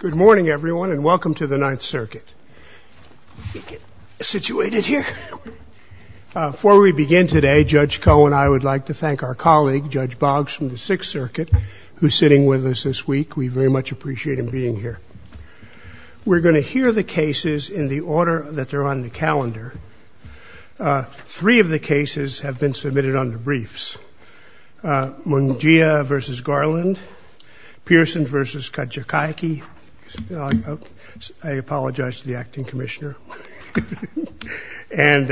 Good morning, everyone, and welcome to the Ninth Circuit. Before we begin today, Judge Koh and I would like to thank our colleague, Judge Boggs, from the Sixth Circuit, who's sitting with us this week. We very much appreciate him being here. We're going to hear the cases in the order that they're on the calendar. Three of the cases have been submitted under briefs. Mungia v. Garland, Pearson v. Kajikaiki. I apologize to the acting commissioner. And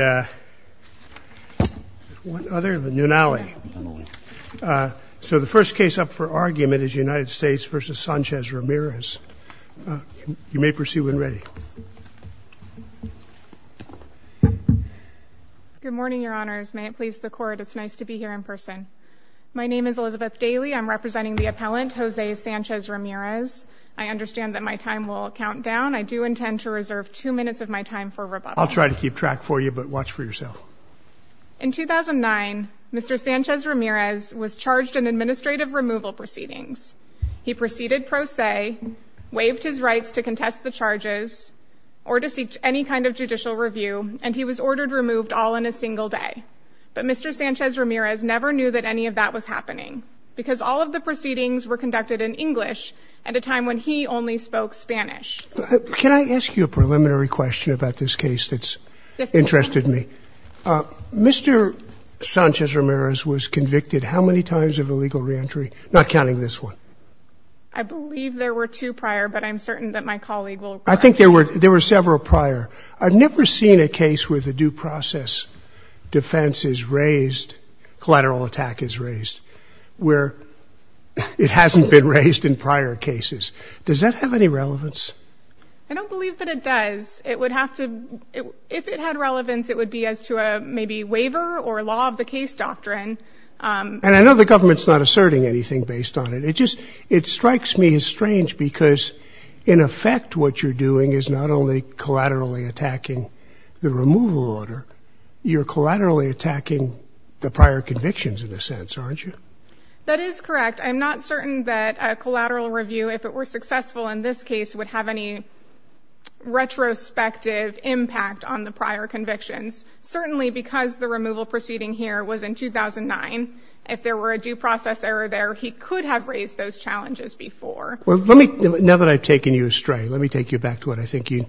one other, Nunali. So the first case up for argument is United States v. Sanchez-Ramirez. You may proceed when ready. Elizabeth Daly Good morning, Your Honors. May it please the Court, it's nice to be here in person. My name is Elizabeth Daly. I'm representing the appellant, Jose Sanchez-Ramirez. I understand that my time will count down. I do intend to reserve two minutes of my time for rebuttal. Judge Kohl I'll try to keep track for you, but watch for yourself. Elizabeth Daly In 2009, Mr. Sanchez-Ramirez was charged in administrative removal proceedings. He proceeded pro se, waived his rights to contest the charges or to seek any kind of judicial review, and he was ordered removed all in a single day. But Mr. Sanchez-Ramirez never knew that any of that was happening, because all of the proceedings were conducted in English at a time when he only spoke Spanish. Judge Kohl Can I ask you a preliminary question about this case that's interested me? Mr. Sanchez-Ramirez was convicted how many times of illegal reentry? Not counting this one. Elizabeth Daly I believe there were two prior, but I'm certain that my colleague will— Judge Kohl I think there were several prior. I've never seen a case where the due process defense is raised, collateral attack is raised, where it hasn't been raised in prior cases. Does that have any relevance? Elizabeth Daly I don't believe that it does. It would have to — if it had relevance, it would be as to a maybe waiver or law of the case doctrine. Judge Kohl And I know the government's not asserting anything based on it. It just — it strikes me as strange, because in effect what you're doing is not only collaterally attacking the removal order, you're collaterally attacking the prior convictions in a sense, aren't you? Elizabeth Daly That is correct. I'm not certain that a collateral review, if it were successful in this case, would have any retrospective impact on the prior convictions. Certainly because the removal proceeding here was in 2009, if there were a due process error there, he could have raised those challenges before. Judge Kohl Well, let me — now that I've taken you astray, let me take you back to what I think you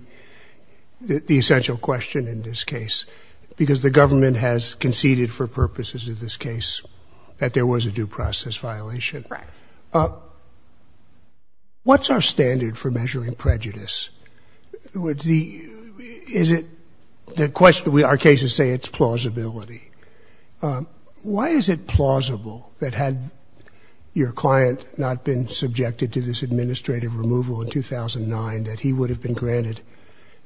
— the essential question in this case, because the government has conceded for purposes of this case that there was a due process violation. Elizabeth Daly Correct. Judge Kohl What's our standard for measuring prejudice? In other words, the — is it — the question — our cases say it's plausibility. Why is it plausible that had your client not been subjected to this administrative removal in 2009, that he would have been granted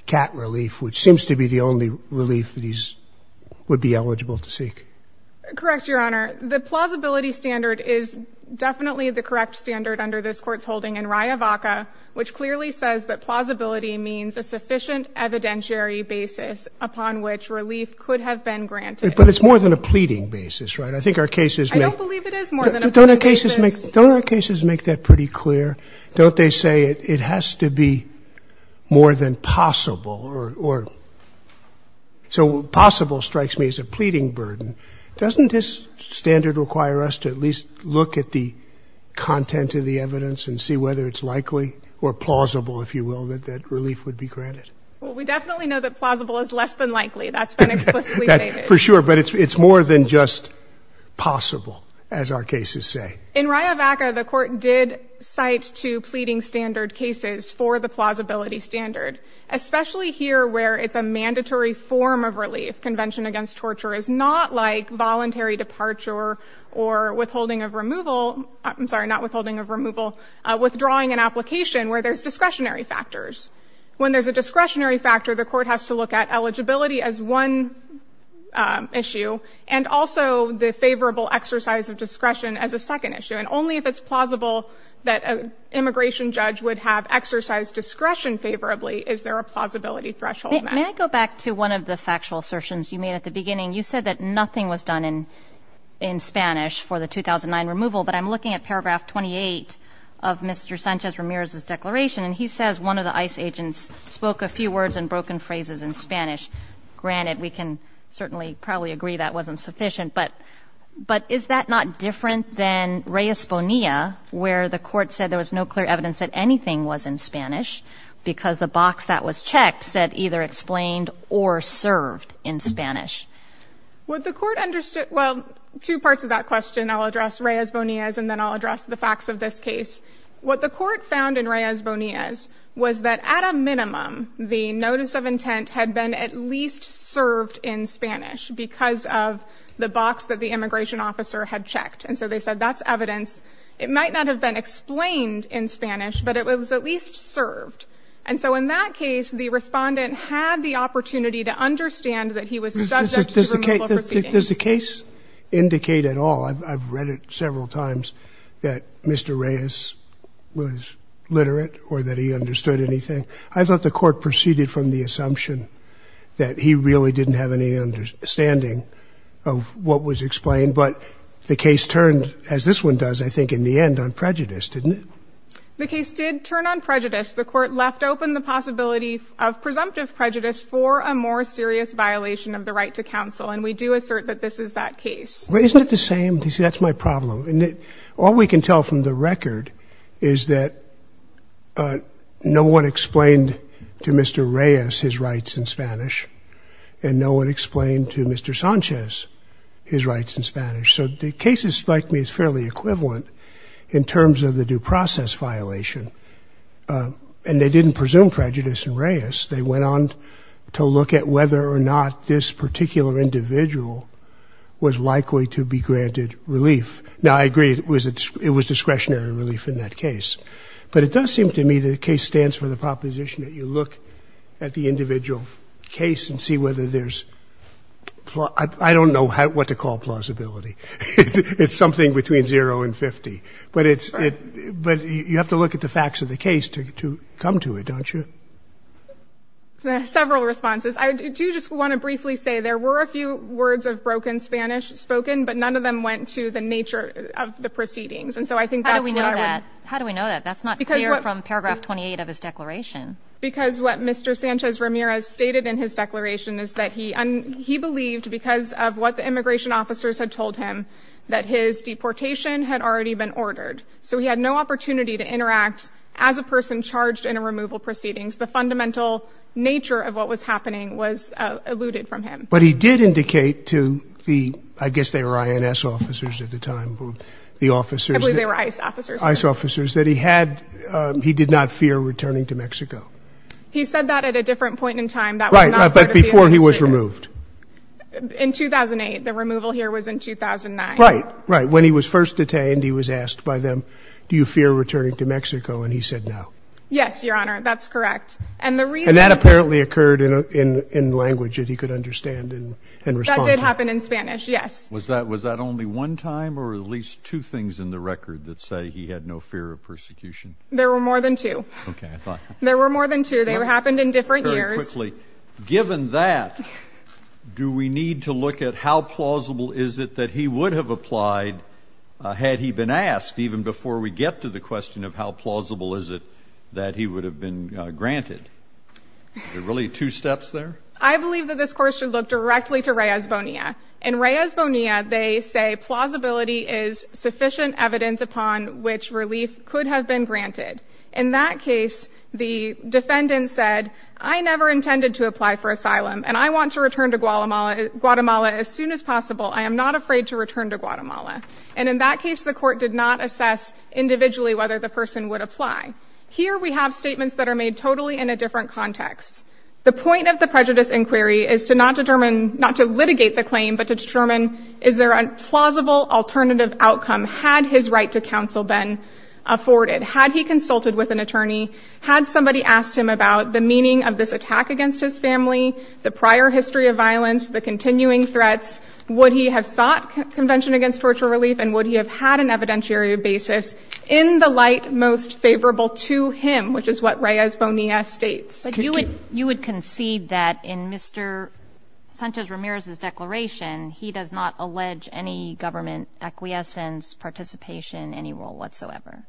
cat relief, which seems to be the only relief that he's — would be eligible to seek? Elizabeth Daly Correct, Your Honor. The plausibility standard is definitely the correct standard under this Court's holding in Riavaca, which clearly says that plausibility means a sufficient evidentiary basis upon which relief could have been granted. Judge Kohl But it's more than a pleading basis, right? I think our cases — Elizabeth Daly I don't believe it is more than a pleading basis. Judge Kohl Don't our cases make — don't our cases make that pretty clear? Don't they say it has to be more than possible or — so possible strikes me as a pleading burden. Doesn't this standard require us to at least look at the content of the evidence and see whether it's likely or plausible, if you will, that relief would be granted? Elizabeth Daly Well, we definitely know that plausible is less than likely. That's been explicitly stated. Judge Kohl For sure. But it's more than just possible, as our cases say. Elizabeth Daly In Riavaca, the Court did cite two pleading standard cases for the plausibility standard, especially here where it's a mandatory form of relief. Convention against torture is not like voluntary departure or withholding of removal — I'm sorry, not withholding of removal — withdrawing an application where there's discretionary factors. When there's a discretionary factor, the Court has to look at eligibility as one issue and also the favorable exercise of discretion as a second issue. And only if it's plausible that an immigration judge would have exercised discretion favorably is there a plausibility threshold met. Judge Kohl May I go back to one of the factual assertions you made at the beginning. You said that nothing was done in Spanish for the 2009 removal, but I'm looking at paragraph 28 of Mr. Sanchez-Ramirez's declaration, and he says one of the ICE agents spoke a few words and broken phrases in Spanish. Granted, we can certainly probably agree that wasn't sufficient, but is that not different than Reyes-Bonilla, where the Court said there was no clear evidence that anything was in Spanish because the box that was checked said either explained or served in Spanish? Judge Kohl May What the Court understood — well, two parts of that question. I'll address Reyes-Bonilla's, and then I'll address the facts of this case. What the Court found in Reyes-Bonilla's was that at a minimum, the notice of intent had been at least served in Spanish because of the box that the immigration officer had checked. And so they said that's evidence. It might not have been explained in Spanish, but it was at least served. And so in that case, the Respondent had the opportunity to understand that he was subject to removal proceedings. Judge Kohl May Does the case indicate at all — I've read it several times — that Mr. Reyes was literate or that he understood anything. I thought the Court proceeded from the assumption that he really didn't have any understanding of what was explained. But the case turned, as this one does, I think, in the end on prejudice, didn't it? Ms. Reyes-Bonilla The case did turn on prejudice. The Court left open the possibility of presumptive prejudice for a more serious violation of the right to counsel. And we do assert that this is that case. Judge Kohl May But isn't it the same? You see, that's my problem. And all we can tell from the record is that no one explained to Mr. Reyes his rights in Spanish, and no one explained to Mr. Sanchez his rights in Spanish. So the process violation. And they didn't presume prejudice in Reyes. They went on to look at whether or not this particular individual was likely to be granted relief. Now, I agree it was discretionary relief in that case. But it does seem to me that the case stands for the proposition that you look at the individual case and see whether there's — I don't know what to call plausibility. It's something between zero and 50. But it's — but you have to look at the facts of the case to come to it, don't you? Ms. Reyes-Bonilla Several responses. I do just want to briefly say there were a few words of broken Spanish spoken, but none of them went to the nature of the proceedings. And so I think that's what I would — Ms. Reyes-Bonilla How do we know that? How do we know that? That's not clear from paragraph 28 of his declaration. Ms. Reyes-Bonilla Because what Mr. Sanchez Ramirez stated in his declaration is that he — he believed, because of what the immigration officers had told him, that his deportation had already been ordered. So he had no opportunity to interact as a person charged in a removal proceedings. The fundamental nature of what was happening was alluded from him. Mr. Sanchez Ramirez But he did indicate to the — I guess they were INS officers at the time, the officers — Ms. Reyes-Bonilla I believe they were ICE officers. Mr. Sanchez Ramirez — ICE officers that he had — he did not fear returning to Mexico. Ms. Reyes-Bonilla He said that at a different point in time. Mr. Sanchez Ramirez Right, right. But before he was removed? Ms. Reyes-Bonilla In 2008. The removal here was in 2009. Mr. Sanchez Ramirez Right. Right. When he was first detained, he was asked by them, do you fear returning to Mexico? And he said no. Ms. Reyes-Bonilla Yes, Your Honor. That's correct. And the reason — Mr. Sanchez Ramirez And that apparently occurred in language that he could understand and respond to. Ms. Reyes-Bonilla That did happen in Spanish, yes. Mr. Lankford Was that — was that only one time or at least two things in the record that say he had no fear of persecution? Ms. Reyes-Bonilla There were more than two. Mr. Lankford Okay. I thought — Ms. Reyes-Bonilla There were more than two. They happened Mr. Lankford Given that, do we need to look at how plausible is it that he would have applied had he been asked, even before we get to the question of how plausible is it that he would have been granted? Are there really two steps there? Ms. Reyes-Bonilla I believe that this court should look directly to Reyes-Bonilla. In Reyes-Bonilla, they say plausibility is sufficient evidence upon which relief could have been granted. In that case, the defendant said, I never intended to have to apply for asylum, and I want to return to Guatemala as soon as possible. I am not afraid to return to Guatemala. And in that case, the court did not assess individually whether the person would apply. Here we have statements that are made totally in a different context. The point of the prejudice inquiry is to not determine — not to litigate the claim, but to determine, is there a plausible alternative outcome had his right to counsel been afforded? Had he consulted with an attorney? Had somebody asked him about the meaning of this attack against his family, the prior history of violence, the continuing threats? Would he have sought convention against torture relief, and would he have had an evidentiary basis in the light most favorable to him, which is what Reyes-Bonilla states? Ms. Reyes-Bonilla But you would concede that in Mr. Sanchez-Ramirez's declaration, he does not allege any government acquiescence, participation, any role whatsoever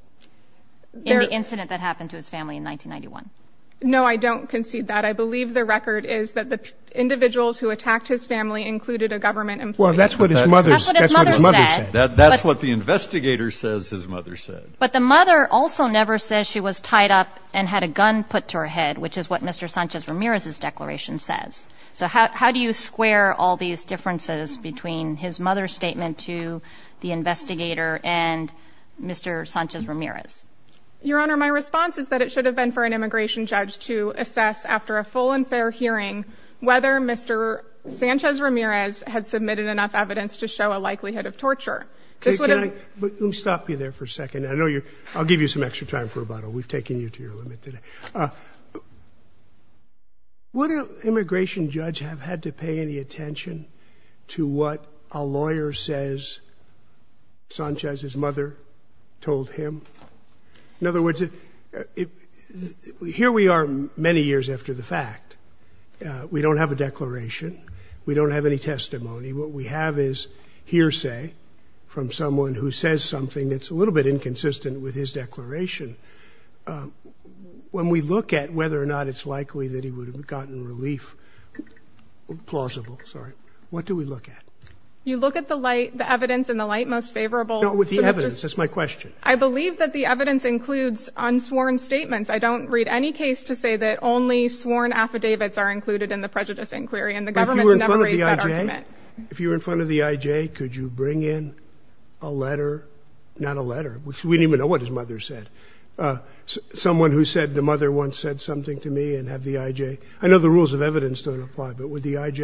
in the incident that happened to his family in 1991? Mr. Sanchez-Ramirez No, I don't concede that. I believe the record is that the individuals who attacked his family included a government employee. Mr. O'Brien Well, that's what his mother said. Ms. Reyes-Bonilla That's what his mother said. Mr. O'Brien That's what the investigator says his mother said. Ms. Reyes-Bonilla But the mother also never says she was tied up and had a gun put to her head, which is what Mr. Sanchez-Ramirez's declaration says. So how do you square all these differences between his mother's statement to the investigator and Mr. Sanchez-Ramirez? Ms. Reyes-Bonilla Your Honor, my response is that it should have been for an immigration judge to assess after a full and fair hearing whether Mr. Sanchez-Ramirez had submitted enough evidence to show a likelihood of torture. Mr. O'Brien Let me stop you there for a second. I'll give you some extra time for rebuttal. We've taken you to your limit today. Would an immigration judge have had to pay any attention to what a lawyer says Sanchez's mother told him? In other words, here we are many years after the fact. We don't have a declaration. We don't have any testimony. What we have is hearsay from someone who says something that's a little bit inconsistent with his declaration. When we look at whether or not it's likely that he would have gotten relief, plausible, sorry, what do we look at? Ms. Reyes-Bonilla You look at the light, the evidence and the light most favorable. Mr. O'Brien No, with the evidence. That's my question. Ms. Reyes-Bonilla I believe that the evidence includes unsworn statements. I don't read any case to say that only sworn affidavits are included in the prejudice inquiry. Mr. O'Brien But if you were in front of the IJ, could you bring in a letter? Not a letter. We don't even know what his mother said. Someone who said the mother once said something to me and have the IJ. I know the rules of evidence don't apply, but would the IJ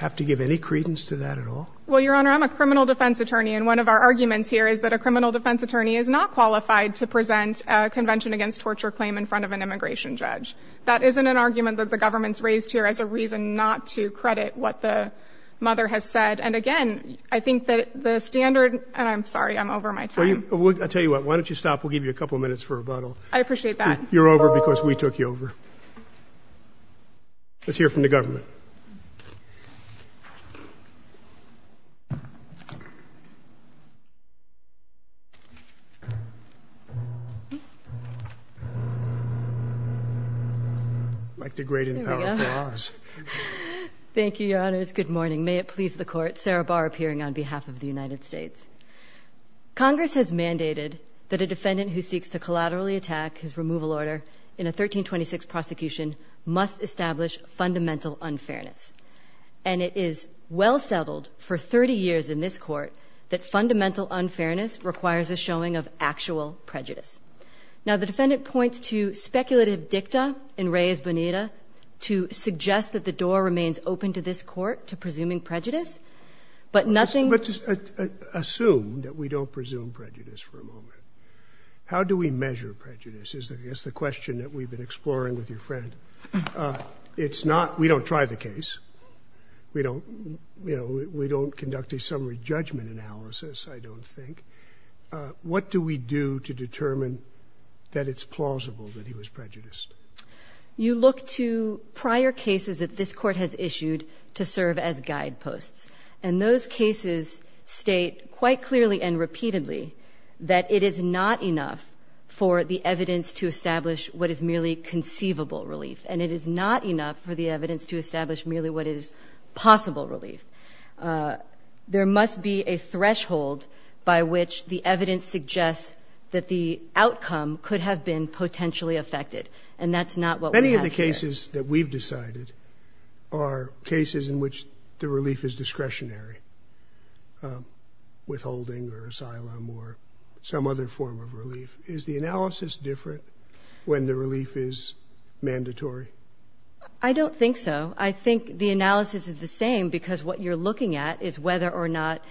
have to give any credence to that at all? Ms. Reyes-Bonilla Well, Your Honor, I'm a criminal defense attorney, and one of our arguments here is that a criminal defense attorney is not qualified to present a convention against torture claim in front of an immigration judge. That isn't an argument that the government's raised here as a reason not to credit what the mother has said. And again, I think that the standard, and I'm sorry, I'm over my time. Mr. O'Brien I'll tell you what, why don't you stop? We'll give you a couple minutes for rebuttal. Ms. Reyes-Bonilla I appreciate that. Mr. O'Brien You're over because we took you over. Let's hear from the government. Ms. Reyes-Bonilla Thank you, Your Honors. Good morning. May it please the Court, Sarah Barr appearing on behalf of the United States. Congress has mandated that a defendant who seeks to collaterally unfairness. And it is well settled for 30 years in this court that fundamental unfairness requires a showing of actual prejudice. Now the defendant points to speculative dicta in Reyes-Bonilla to suggest that the door remains open to this court to presuming prejudice, but nothing Mr. O'Brien Let's just assume that we don't presume prejudice for a moment. How do we measure prejudice? That's the question that we've been exploring with your friend. It's not, we don't try the case. We don't, you know, we don't conduct a summary judgment analysis, I don't think. What do we do to determine that it's plausible that he was prejudiced? Ms. Reyes-Bonilla You look to prior cases that this court has issued to serve as guideposts. And those cases state quite clearly and repeatedly that it is not enough for the evidence to establish what is merely conceivable relief. And it is not enough for the evidence to establish merely what is possible relief. There must be a threshold by which the evidence suggests that the outcome could have been potentially affected. And that's not what we have here. Mr. O'Brien The cases that we've decided are cases in which the relief is discretionary. Withholding or asylum or some other form of relief. Is the analysis different when the relief is mandatory? Ms. Reyes-Bonilla I don't think so. I think the analysis is the same because what you're looking at is whether or not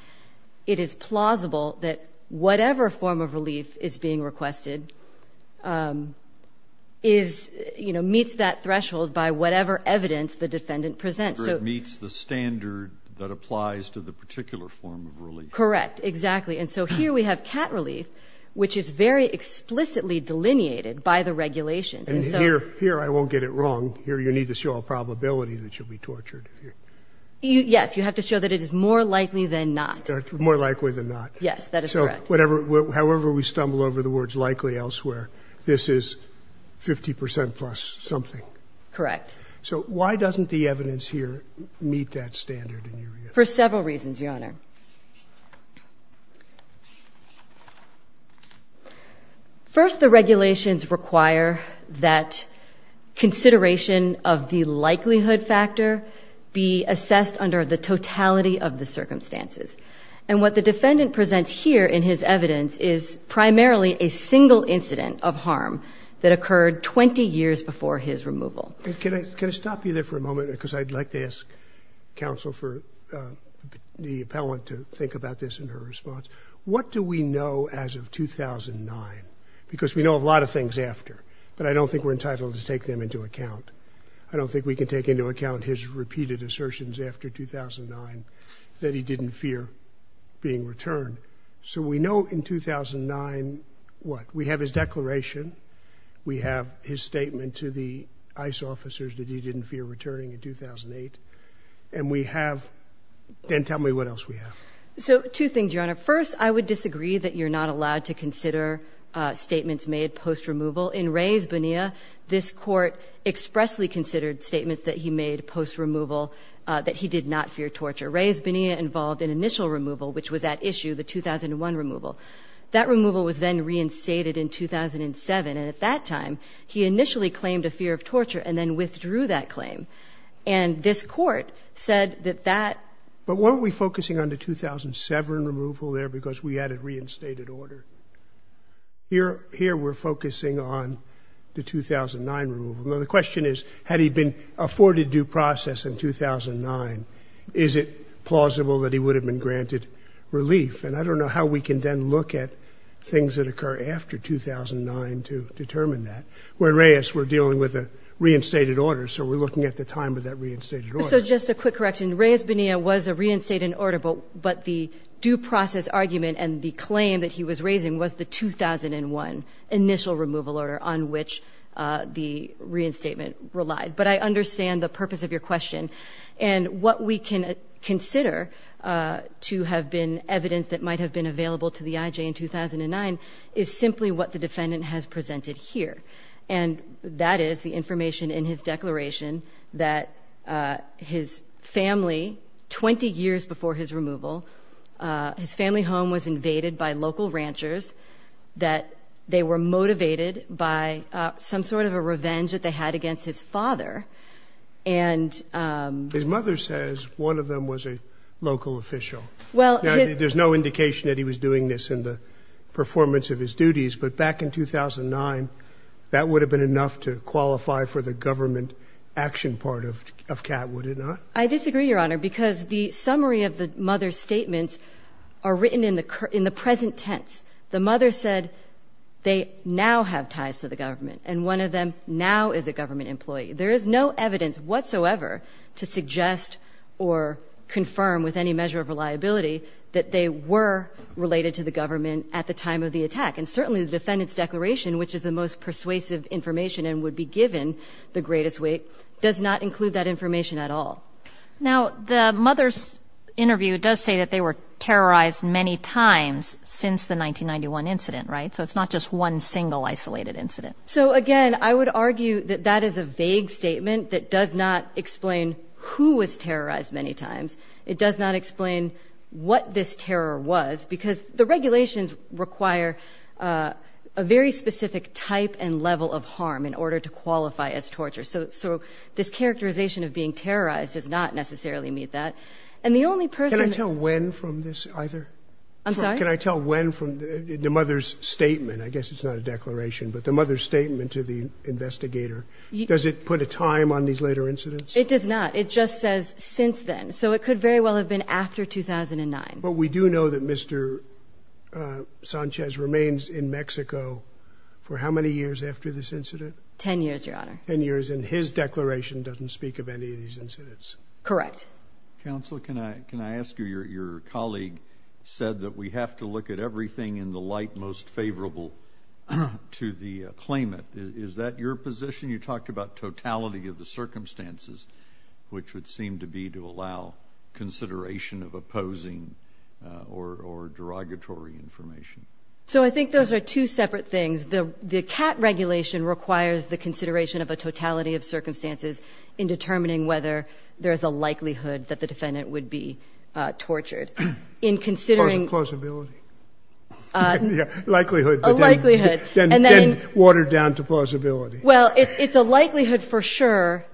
it is plausible that whatever form of relief is being requested is, you know, being fulfilled by whatever evidence the defendant presents. Mr. O'Brien So it meets the standard that applies to the particular form of relief. Ms. Reyes-Bonilla Correct. Exactly. And so here we have cat relief, which is very explicitly delineated by the regulations. And so Mr. Scalia And here, here I won't get it wrong. Here you need to show a probability that you'll be tortured. Ms. Reyes-Bonilla Yes. You have to show that it is more likely than not. More likely than not. Ms. Reyes-Bonilla Yes. That is correct. Mr. Scalia However we stumble over the words likely elsewhere, this is 50 percent plus something. Ms. Reyes-Bonilla Correct. Mr. Scalia So why doesn't the evidence here meet that standard in your view? Ms. Reyes-Bonilla For several reasons, Your Honor. First, the regulations require that consideration of the likelihood factor be assessed under the totality of the circumstances. And what the defendant presents here in his evidence is primarily a single incident of harm that occurred 20 years before his removal. Mr. Scalia Can I stop you there for a moment because I'd like to ask counsel for the appellant to think about this in her response. What do we know as of 2009? Because we know a lot of things after, but I don't think we're entitled to take them into account. I don't think we can take into account his repeated assertions after 2009 that he didn't fear being returned. So we know in 2009 what? We have his declaration. We have his statement to the ICE officers that he didn't fear returning in 2008. And we have – and tell me what else we have. Ms. Reyes-Bonilla So two things, Your Honor. First, I would disagree that you're not allowed to consider statements made post-removal. In Reyes-Bonilla, this Court expressly considered statements that he made post-removal that he did not fear torture. Reyes-Bonilla involved an initial removal, which was at issue, the 2001 removal. That removal was then reinstated in 2007. And at that time, he initially claimed a fear of torture and then withdrew that claim. And this Court said that that But weren't we focusing on the 2007 removal there because we had a reinstated order? Here we're focusing on the 2009 removal. Now, the question is, had he been afforded due process in 2009, is it plausible that he would have been granted relief? And I don't know how we can then look at things that occur after 2009 to determine that. When Reyes were dealing with a reinstated order, so we're looking at the time of that reinstated order. So just a quick correction. Reyes-Bonilla was a reinstated order, but the due process argument and the claim that he was raising was the 2001 initial removal order on which the reinstatement relied. But I understand the purpose of your question. And what we can consider to have been evidence that might have been available to the IJ in 2009 is simply what the defendant has presented here. And that is the information in his home was invaded by local ranchers, that they were motivated by some sort of a revenge that they had against his father. And... His mother says one of them was a local official. Well... There's no indication that he was doing this in the performance of his duties. But back in 2009, that would have been enough to qualify for the government action part of CAT, would it not? I disagree, Your Honor, because the summary of the mother's statements are written in the present tense. The mother said they now have ties to the government, and one of them now is a government employee. There is no evidence whatsoever to suggest or confirm with any measure of reliability that they were related to the government at the time of the attack. And certainly the defendant's declaration, which is the most persuasive information and would be given the greatest weight, does not include that information at all. Now, the mother's interview does say that they were terrorized many times since the 1991 incident, right? So it's not just one single isolated incident. So, again, I would argue that that is a vague statement that does not explain who was terrorized many times. It does not explain what this terror was, because the regulations require a very specific type and level of harm in order to qualify as torture. So this characterization of being terrorized does not necessarily meet that. And the only person... Can I tell when from this either? I'm sorry? Can I tell when from the mother's statement? I guess it's not a declaration, but the mother's statement to the investigator. Does it put a time on these later incidents? It does not. It just says since then. So it could very well have been after 2009. But we do know that Mr. Sanchez remains in Mexico for how many years after this incident? Ten years, Your Honor. Ten years. And his declaration doesn't speak of any of these incidents? Correct. Counsel, can I ask you, your colleague said that we have to look at everything in the light most favorable to the claimant. Is that your position? You talked about totality of the circumstances, which would seem to be to allow consideration of opposing or derogatory information. So I think those are two separate things. The CAT regulation requires the consideration of a totality of circumstances in determining whether there is a likelihood that the defendant would be tortured. In considering... A possibility. A likelihood. A likelihood. And then watered down to plausibility. Well, it's a likelihood for sure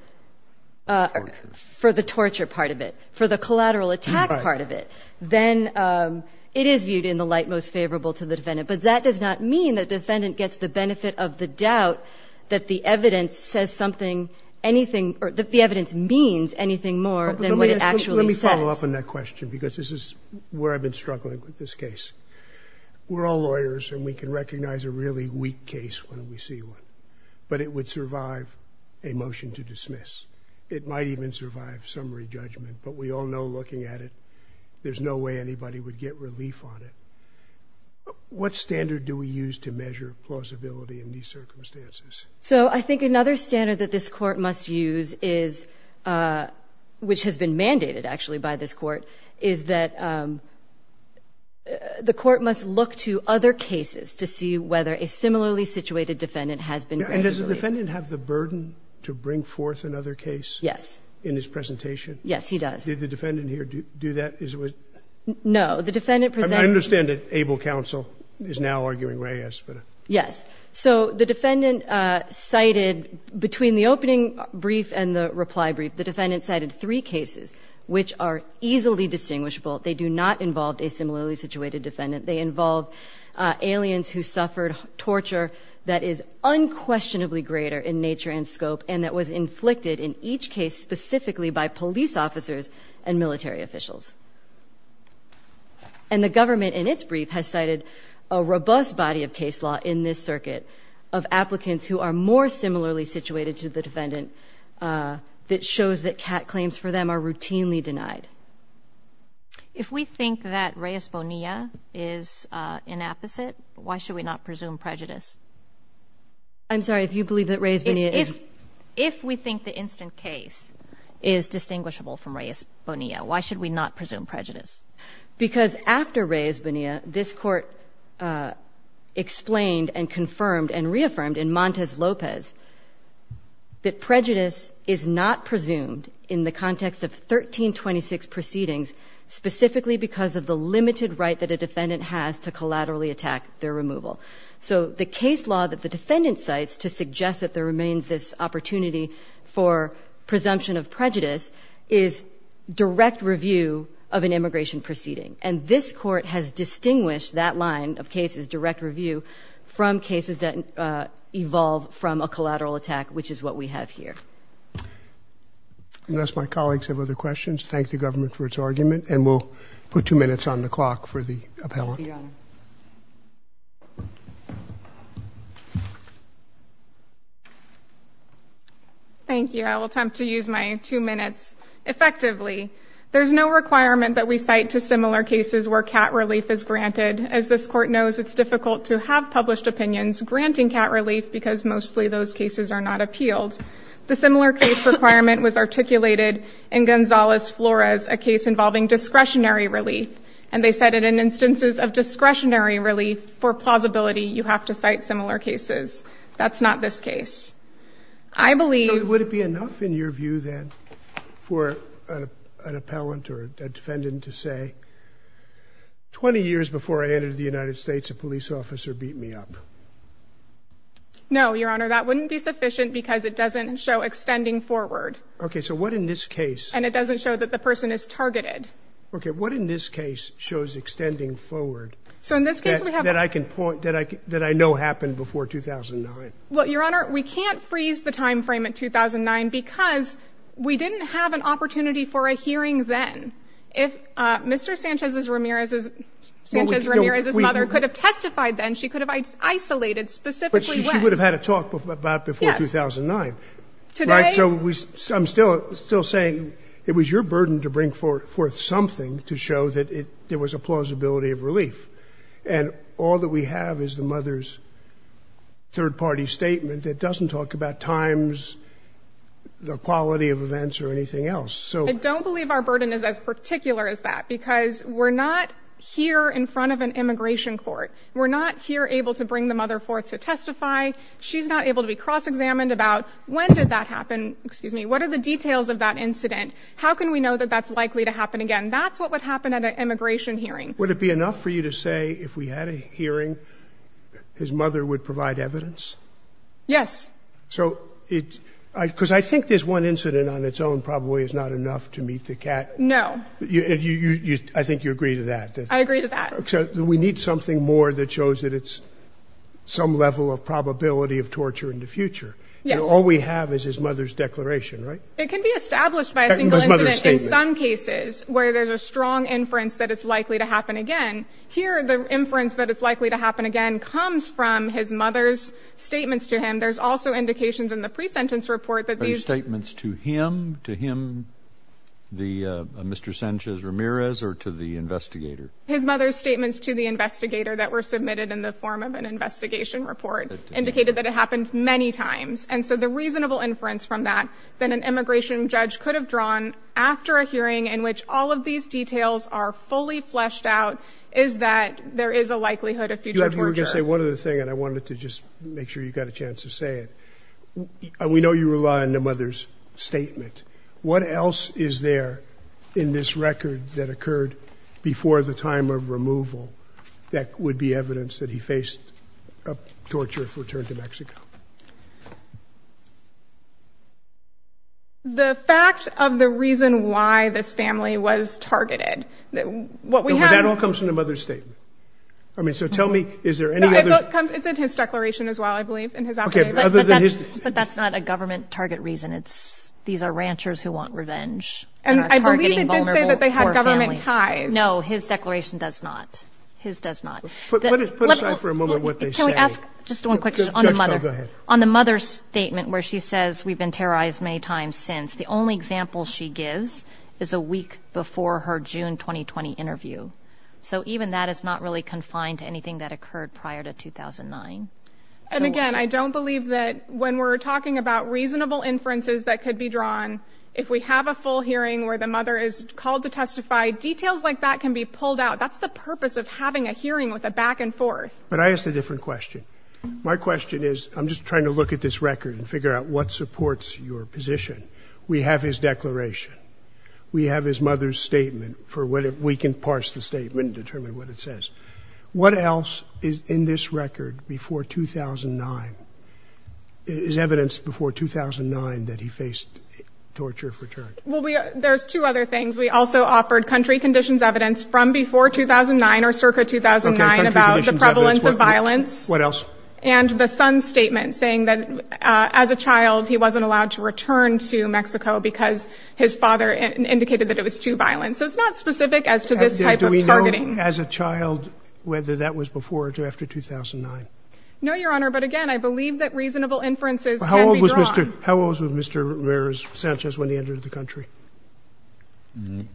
for the torture part of it, for the collateral attack part of it. Right. Then it is viewed in the light most favorable to the defendant. But that does not mean that the defendant gets the benefit of the doubt that the evidence says something, anything, or that the evidence means anything more than what it actually says. Let me follow up on that question, because this is where I've been struggling with this case. We're all lawyers, and we can recognize a really weak case when we see one. But it would survive a motion to dismiss. It might even survive summary judgment. But we all know looking at it, there's no way anybody would get relief on it. What standard do we use to measure plausibility in these circumstances? So I think another standard that this court must use is, which has been mandated actually by this court, is that the court must look to other cases to see whether a similarly situated defendant has been... And does the defendant have the burden to bring forth another case? Yes. In his presentation? Yes, he does. Did the defendant here do that? No. The defendant presented... I understand that ABLE counsel is now arguing where he has put it. Yes. So the defendant cited, between the opening brief and the reply brief, the defendant cited three cases which are easily distinguishable. They do not involve a similarly situated defendant. They involve aliens who suffered torture that is specifically by police officers and military officials. And the government in its brief has cited a robust body of case law in this circuit of applicants who are more similarly situated to the defendant that shows that claims for them are routinely denied. If we think that Reyes Bonilla is inapposite, why should we not presume prejudice? I'm sorry, if you believe that Reyes Bonilla is... If we think the instant case is distinguishable from Reyes Bonilla, why should we not presume prejudice? Because after Reyes Bonilla, this Court explained and confirmed and reaffirmed in Montes Lopez that prejudice is not presumed in the context of 1326 proceedings specifically because of the limited right that a defendant has to collaterally attack their removal. So the case law that the defendant cites to suggest that there remains this opportunity for presumption of prejudice is direct review of an immigration proceeding. And this Court has distinguished that line of cases, direct review, from cases that evolve from a collateral attack, which is what we have here. Unless my colleagues have other questions, thank the government for its argument. And we'll put two minutes on the clock for the appellant. Thank you, Your Honor. Thank you. I will attempt to use my two minutes effectively. There's no requirement that we cite to similar cases where cat relief is granted. As this Court knows, it's difficult to have published opinions granting cat relief because mostly those cases are not appealed. The similar case requirement was articulated in Gonzales-Flores, a case involving discretionary relief. And they cited in instances of discretionary relief for plausibility, you have to cite similar cases. That's not this case. I believe... Would it be enough in your view then for an appellant or a defendant to say, 20 years before I entered the United States, a police officer beat me up? No, Your Honor. That wouldn't be sufficient because it doesn't show extending forward. Okay. So what in this case? And it doesn't show that the person is targeted. Okay. What in this case shows extending forward that I can point, that I know happened before 2009? Well, Your Honor, we can't freeze the time frame at 2009 because we didn't have an opportunity for a hearing then. If Mr. Sanchez-Ramirez's mother could have testified then, she could have isolated specifically when. But she would have had a talk about before 2009. Yes. You're still saying it was your burden to bring forth something to show that there was a plausibility of relief. And all that we have is the mother's third-party statement that doesn't talk about times, the quality of events, or anything else. I don't believe our burden is as particular as that because we're not here in front of an immigration court. We're not here able to bring the mother forth to testify. She's not able to be cross-examined about when did that happen. What are the details of that incident? How can we know that that's likely to happen again? That's what would happen at an immigration hearing. Would it be enough for you to say if we had a hearing, his mother would provide evidence? Yes. Because I think this one incident on its own probably is not enough to meet the cat. No. I think you agree to that. I agree to that. We need something more that shows that it's some level of probability of torture in the future. Yes. All we have is his mother's declaration, right? It can be established by a single incident in some cases where there's a strong inference that it's likely to happen again. Here, the inference that it's likely to happen again comes from his mother's statements to him. There's also indications in the pre-sentence report that these— Are the statements to him, to him, Mr. Sanchez-Ramirez, or to the investigator? His mother's statements to the investigator that were submitted in the form of an investigation report indicated that it happened many times. And so the reasonable inference from that that an immigration judge could have drawn after a hearing in which all of these details are fully fleshed out is that there is a likelihood of future torture. Let me just say one other thing, and I wanted to just make sure you got a chance to say it. We know you rely on the mother's statement. What else is there in this record that occurred before the time of removal that would be evidence that he faced torture if returned to Mexico? The fact of the reason why this family was targeted, what we have— But that all comes from the mother's statement. I mean, so tell me, is there any other— It's in his declaration as well, I believe, in his affidavit. Okay, but other than his— But that's not a government target reason. These are ranchers who want revenge and are targeting vulnerable poor families. And I believe it did say that they had government ties. No, his declaration does not. His does not. Put aside for a moment what they say. Can we ask just one quick question on the mother's statement where she says we've been terrorized many times since. The only example she gives is a week before her June 2020 interview. So even that is not really confined to anything that occurred prior to 2009. And again, I don't believe that when we're talking about reasonable inferences that could be drawn, if we have a full hearing where the mother is called to testify, details like that can be pulled out. That's the purpose of having a hearing with a back-and-forth. But I ask a different question. My question is, I'm just trying to look at this record and figure out what supports your position. We have his declaration. We have his mother's statement for whether we can parse the statement and determine what it says. What else is in this record before 2009, is evidenced before 2009 that he faced torture of return? Well, there's two other things. We also offered country conditions evidence from before 2009 or circa 2009 about the prevalence of violence. What else? And the son's statement saying that as a child he wasn't allowed to return to Mexico because his father indicated that it was too violent. So it's not specific as to this type of targeting. Do we know as a child whether that was before or after 2009? No, Your Honor. But again, I believe that reasonable inferences can be drawn. How old was Mr. Ramirez-Sanchez when he entered the country?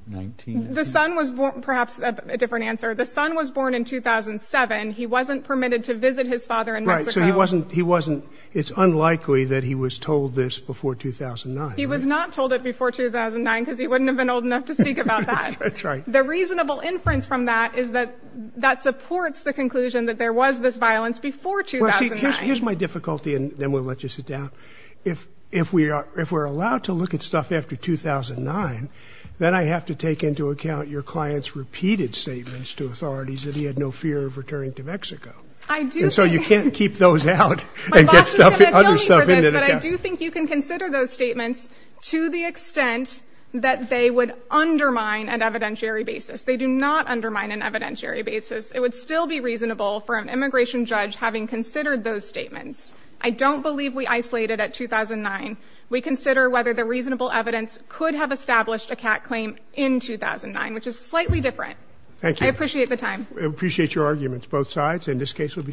Nineteen. Perhaps a different answer. The son was born in 2007. He wasn't permitted to visit his father in Mexico. Right, so it's unlikely that he was told this before 2009. He was not told it before 2009 because he wouldn't have been old enough to speak about that. That's right. The reasonable inference from that is that that supports the conclusion that there was this violence before 2009. Well, see, here's my difficulty, and then we'll let you sit down. If we're allowed to look at stuff after 2009, then I have to take into account your client's repeated statements to authorities that he had no fear of returning to Mexico. And so you can't keep those out and get other stuff into the account. But I do think you can consider those statements to the extent that they would undermine an evidentiary basis. They do not undermine an evidentiary basis. It would still be reasonable for an immigration judge having considered those statements. I don't believe we isolated at 2009. We consider whether the reasonable evidence could have established a CAT claim in 2009, which is slightly different. Thank you. I appreciate the time. We appreciate your arguments, both sides, and this case will be submitted.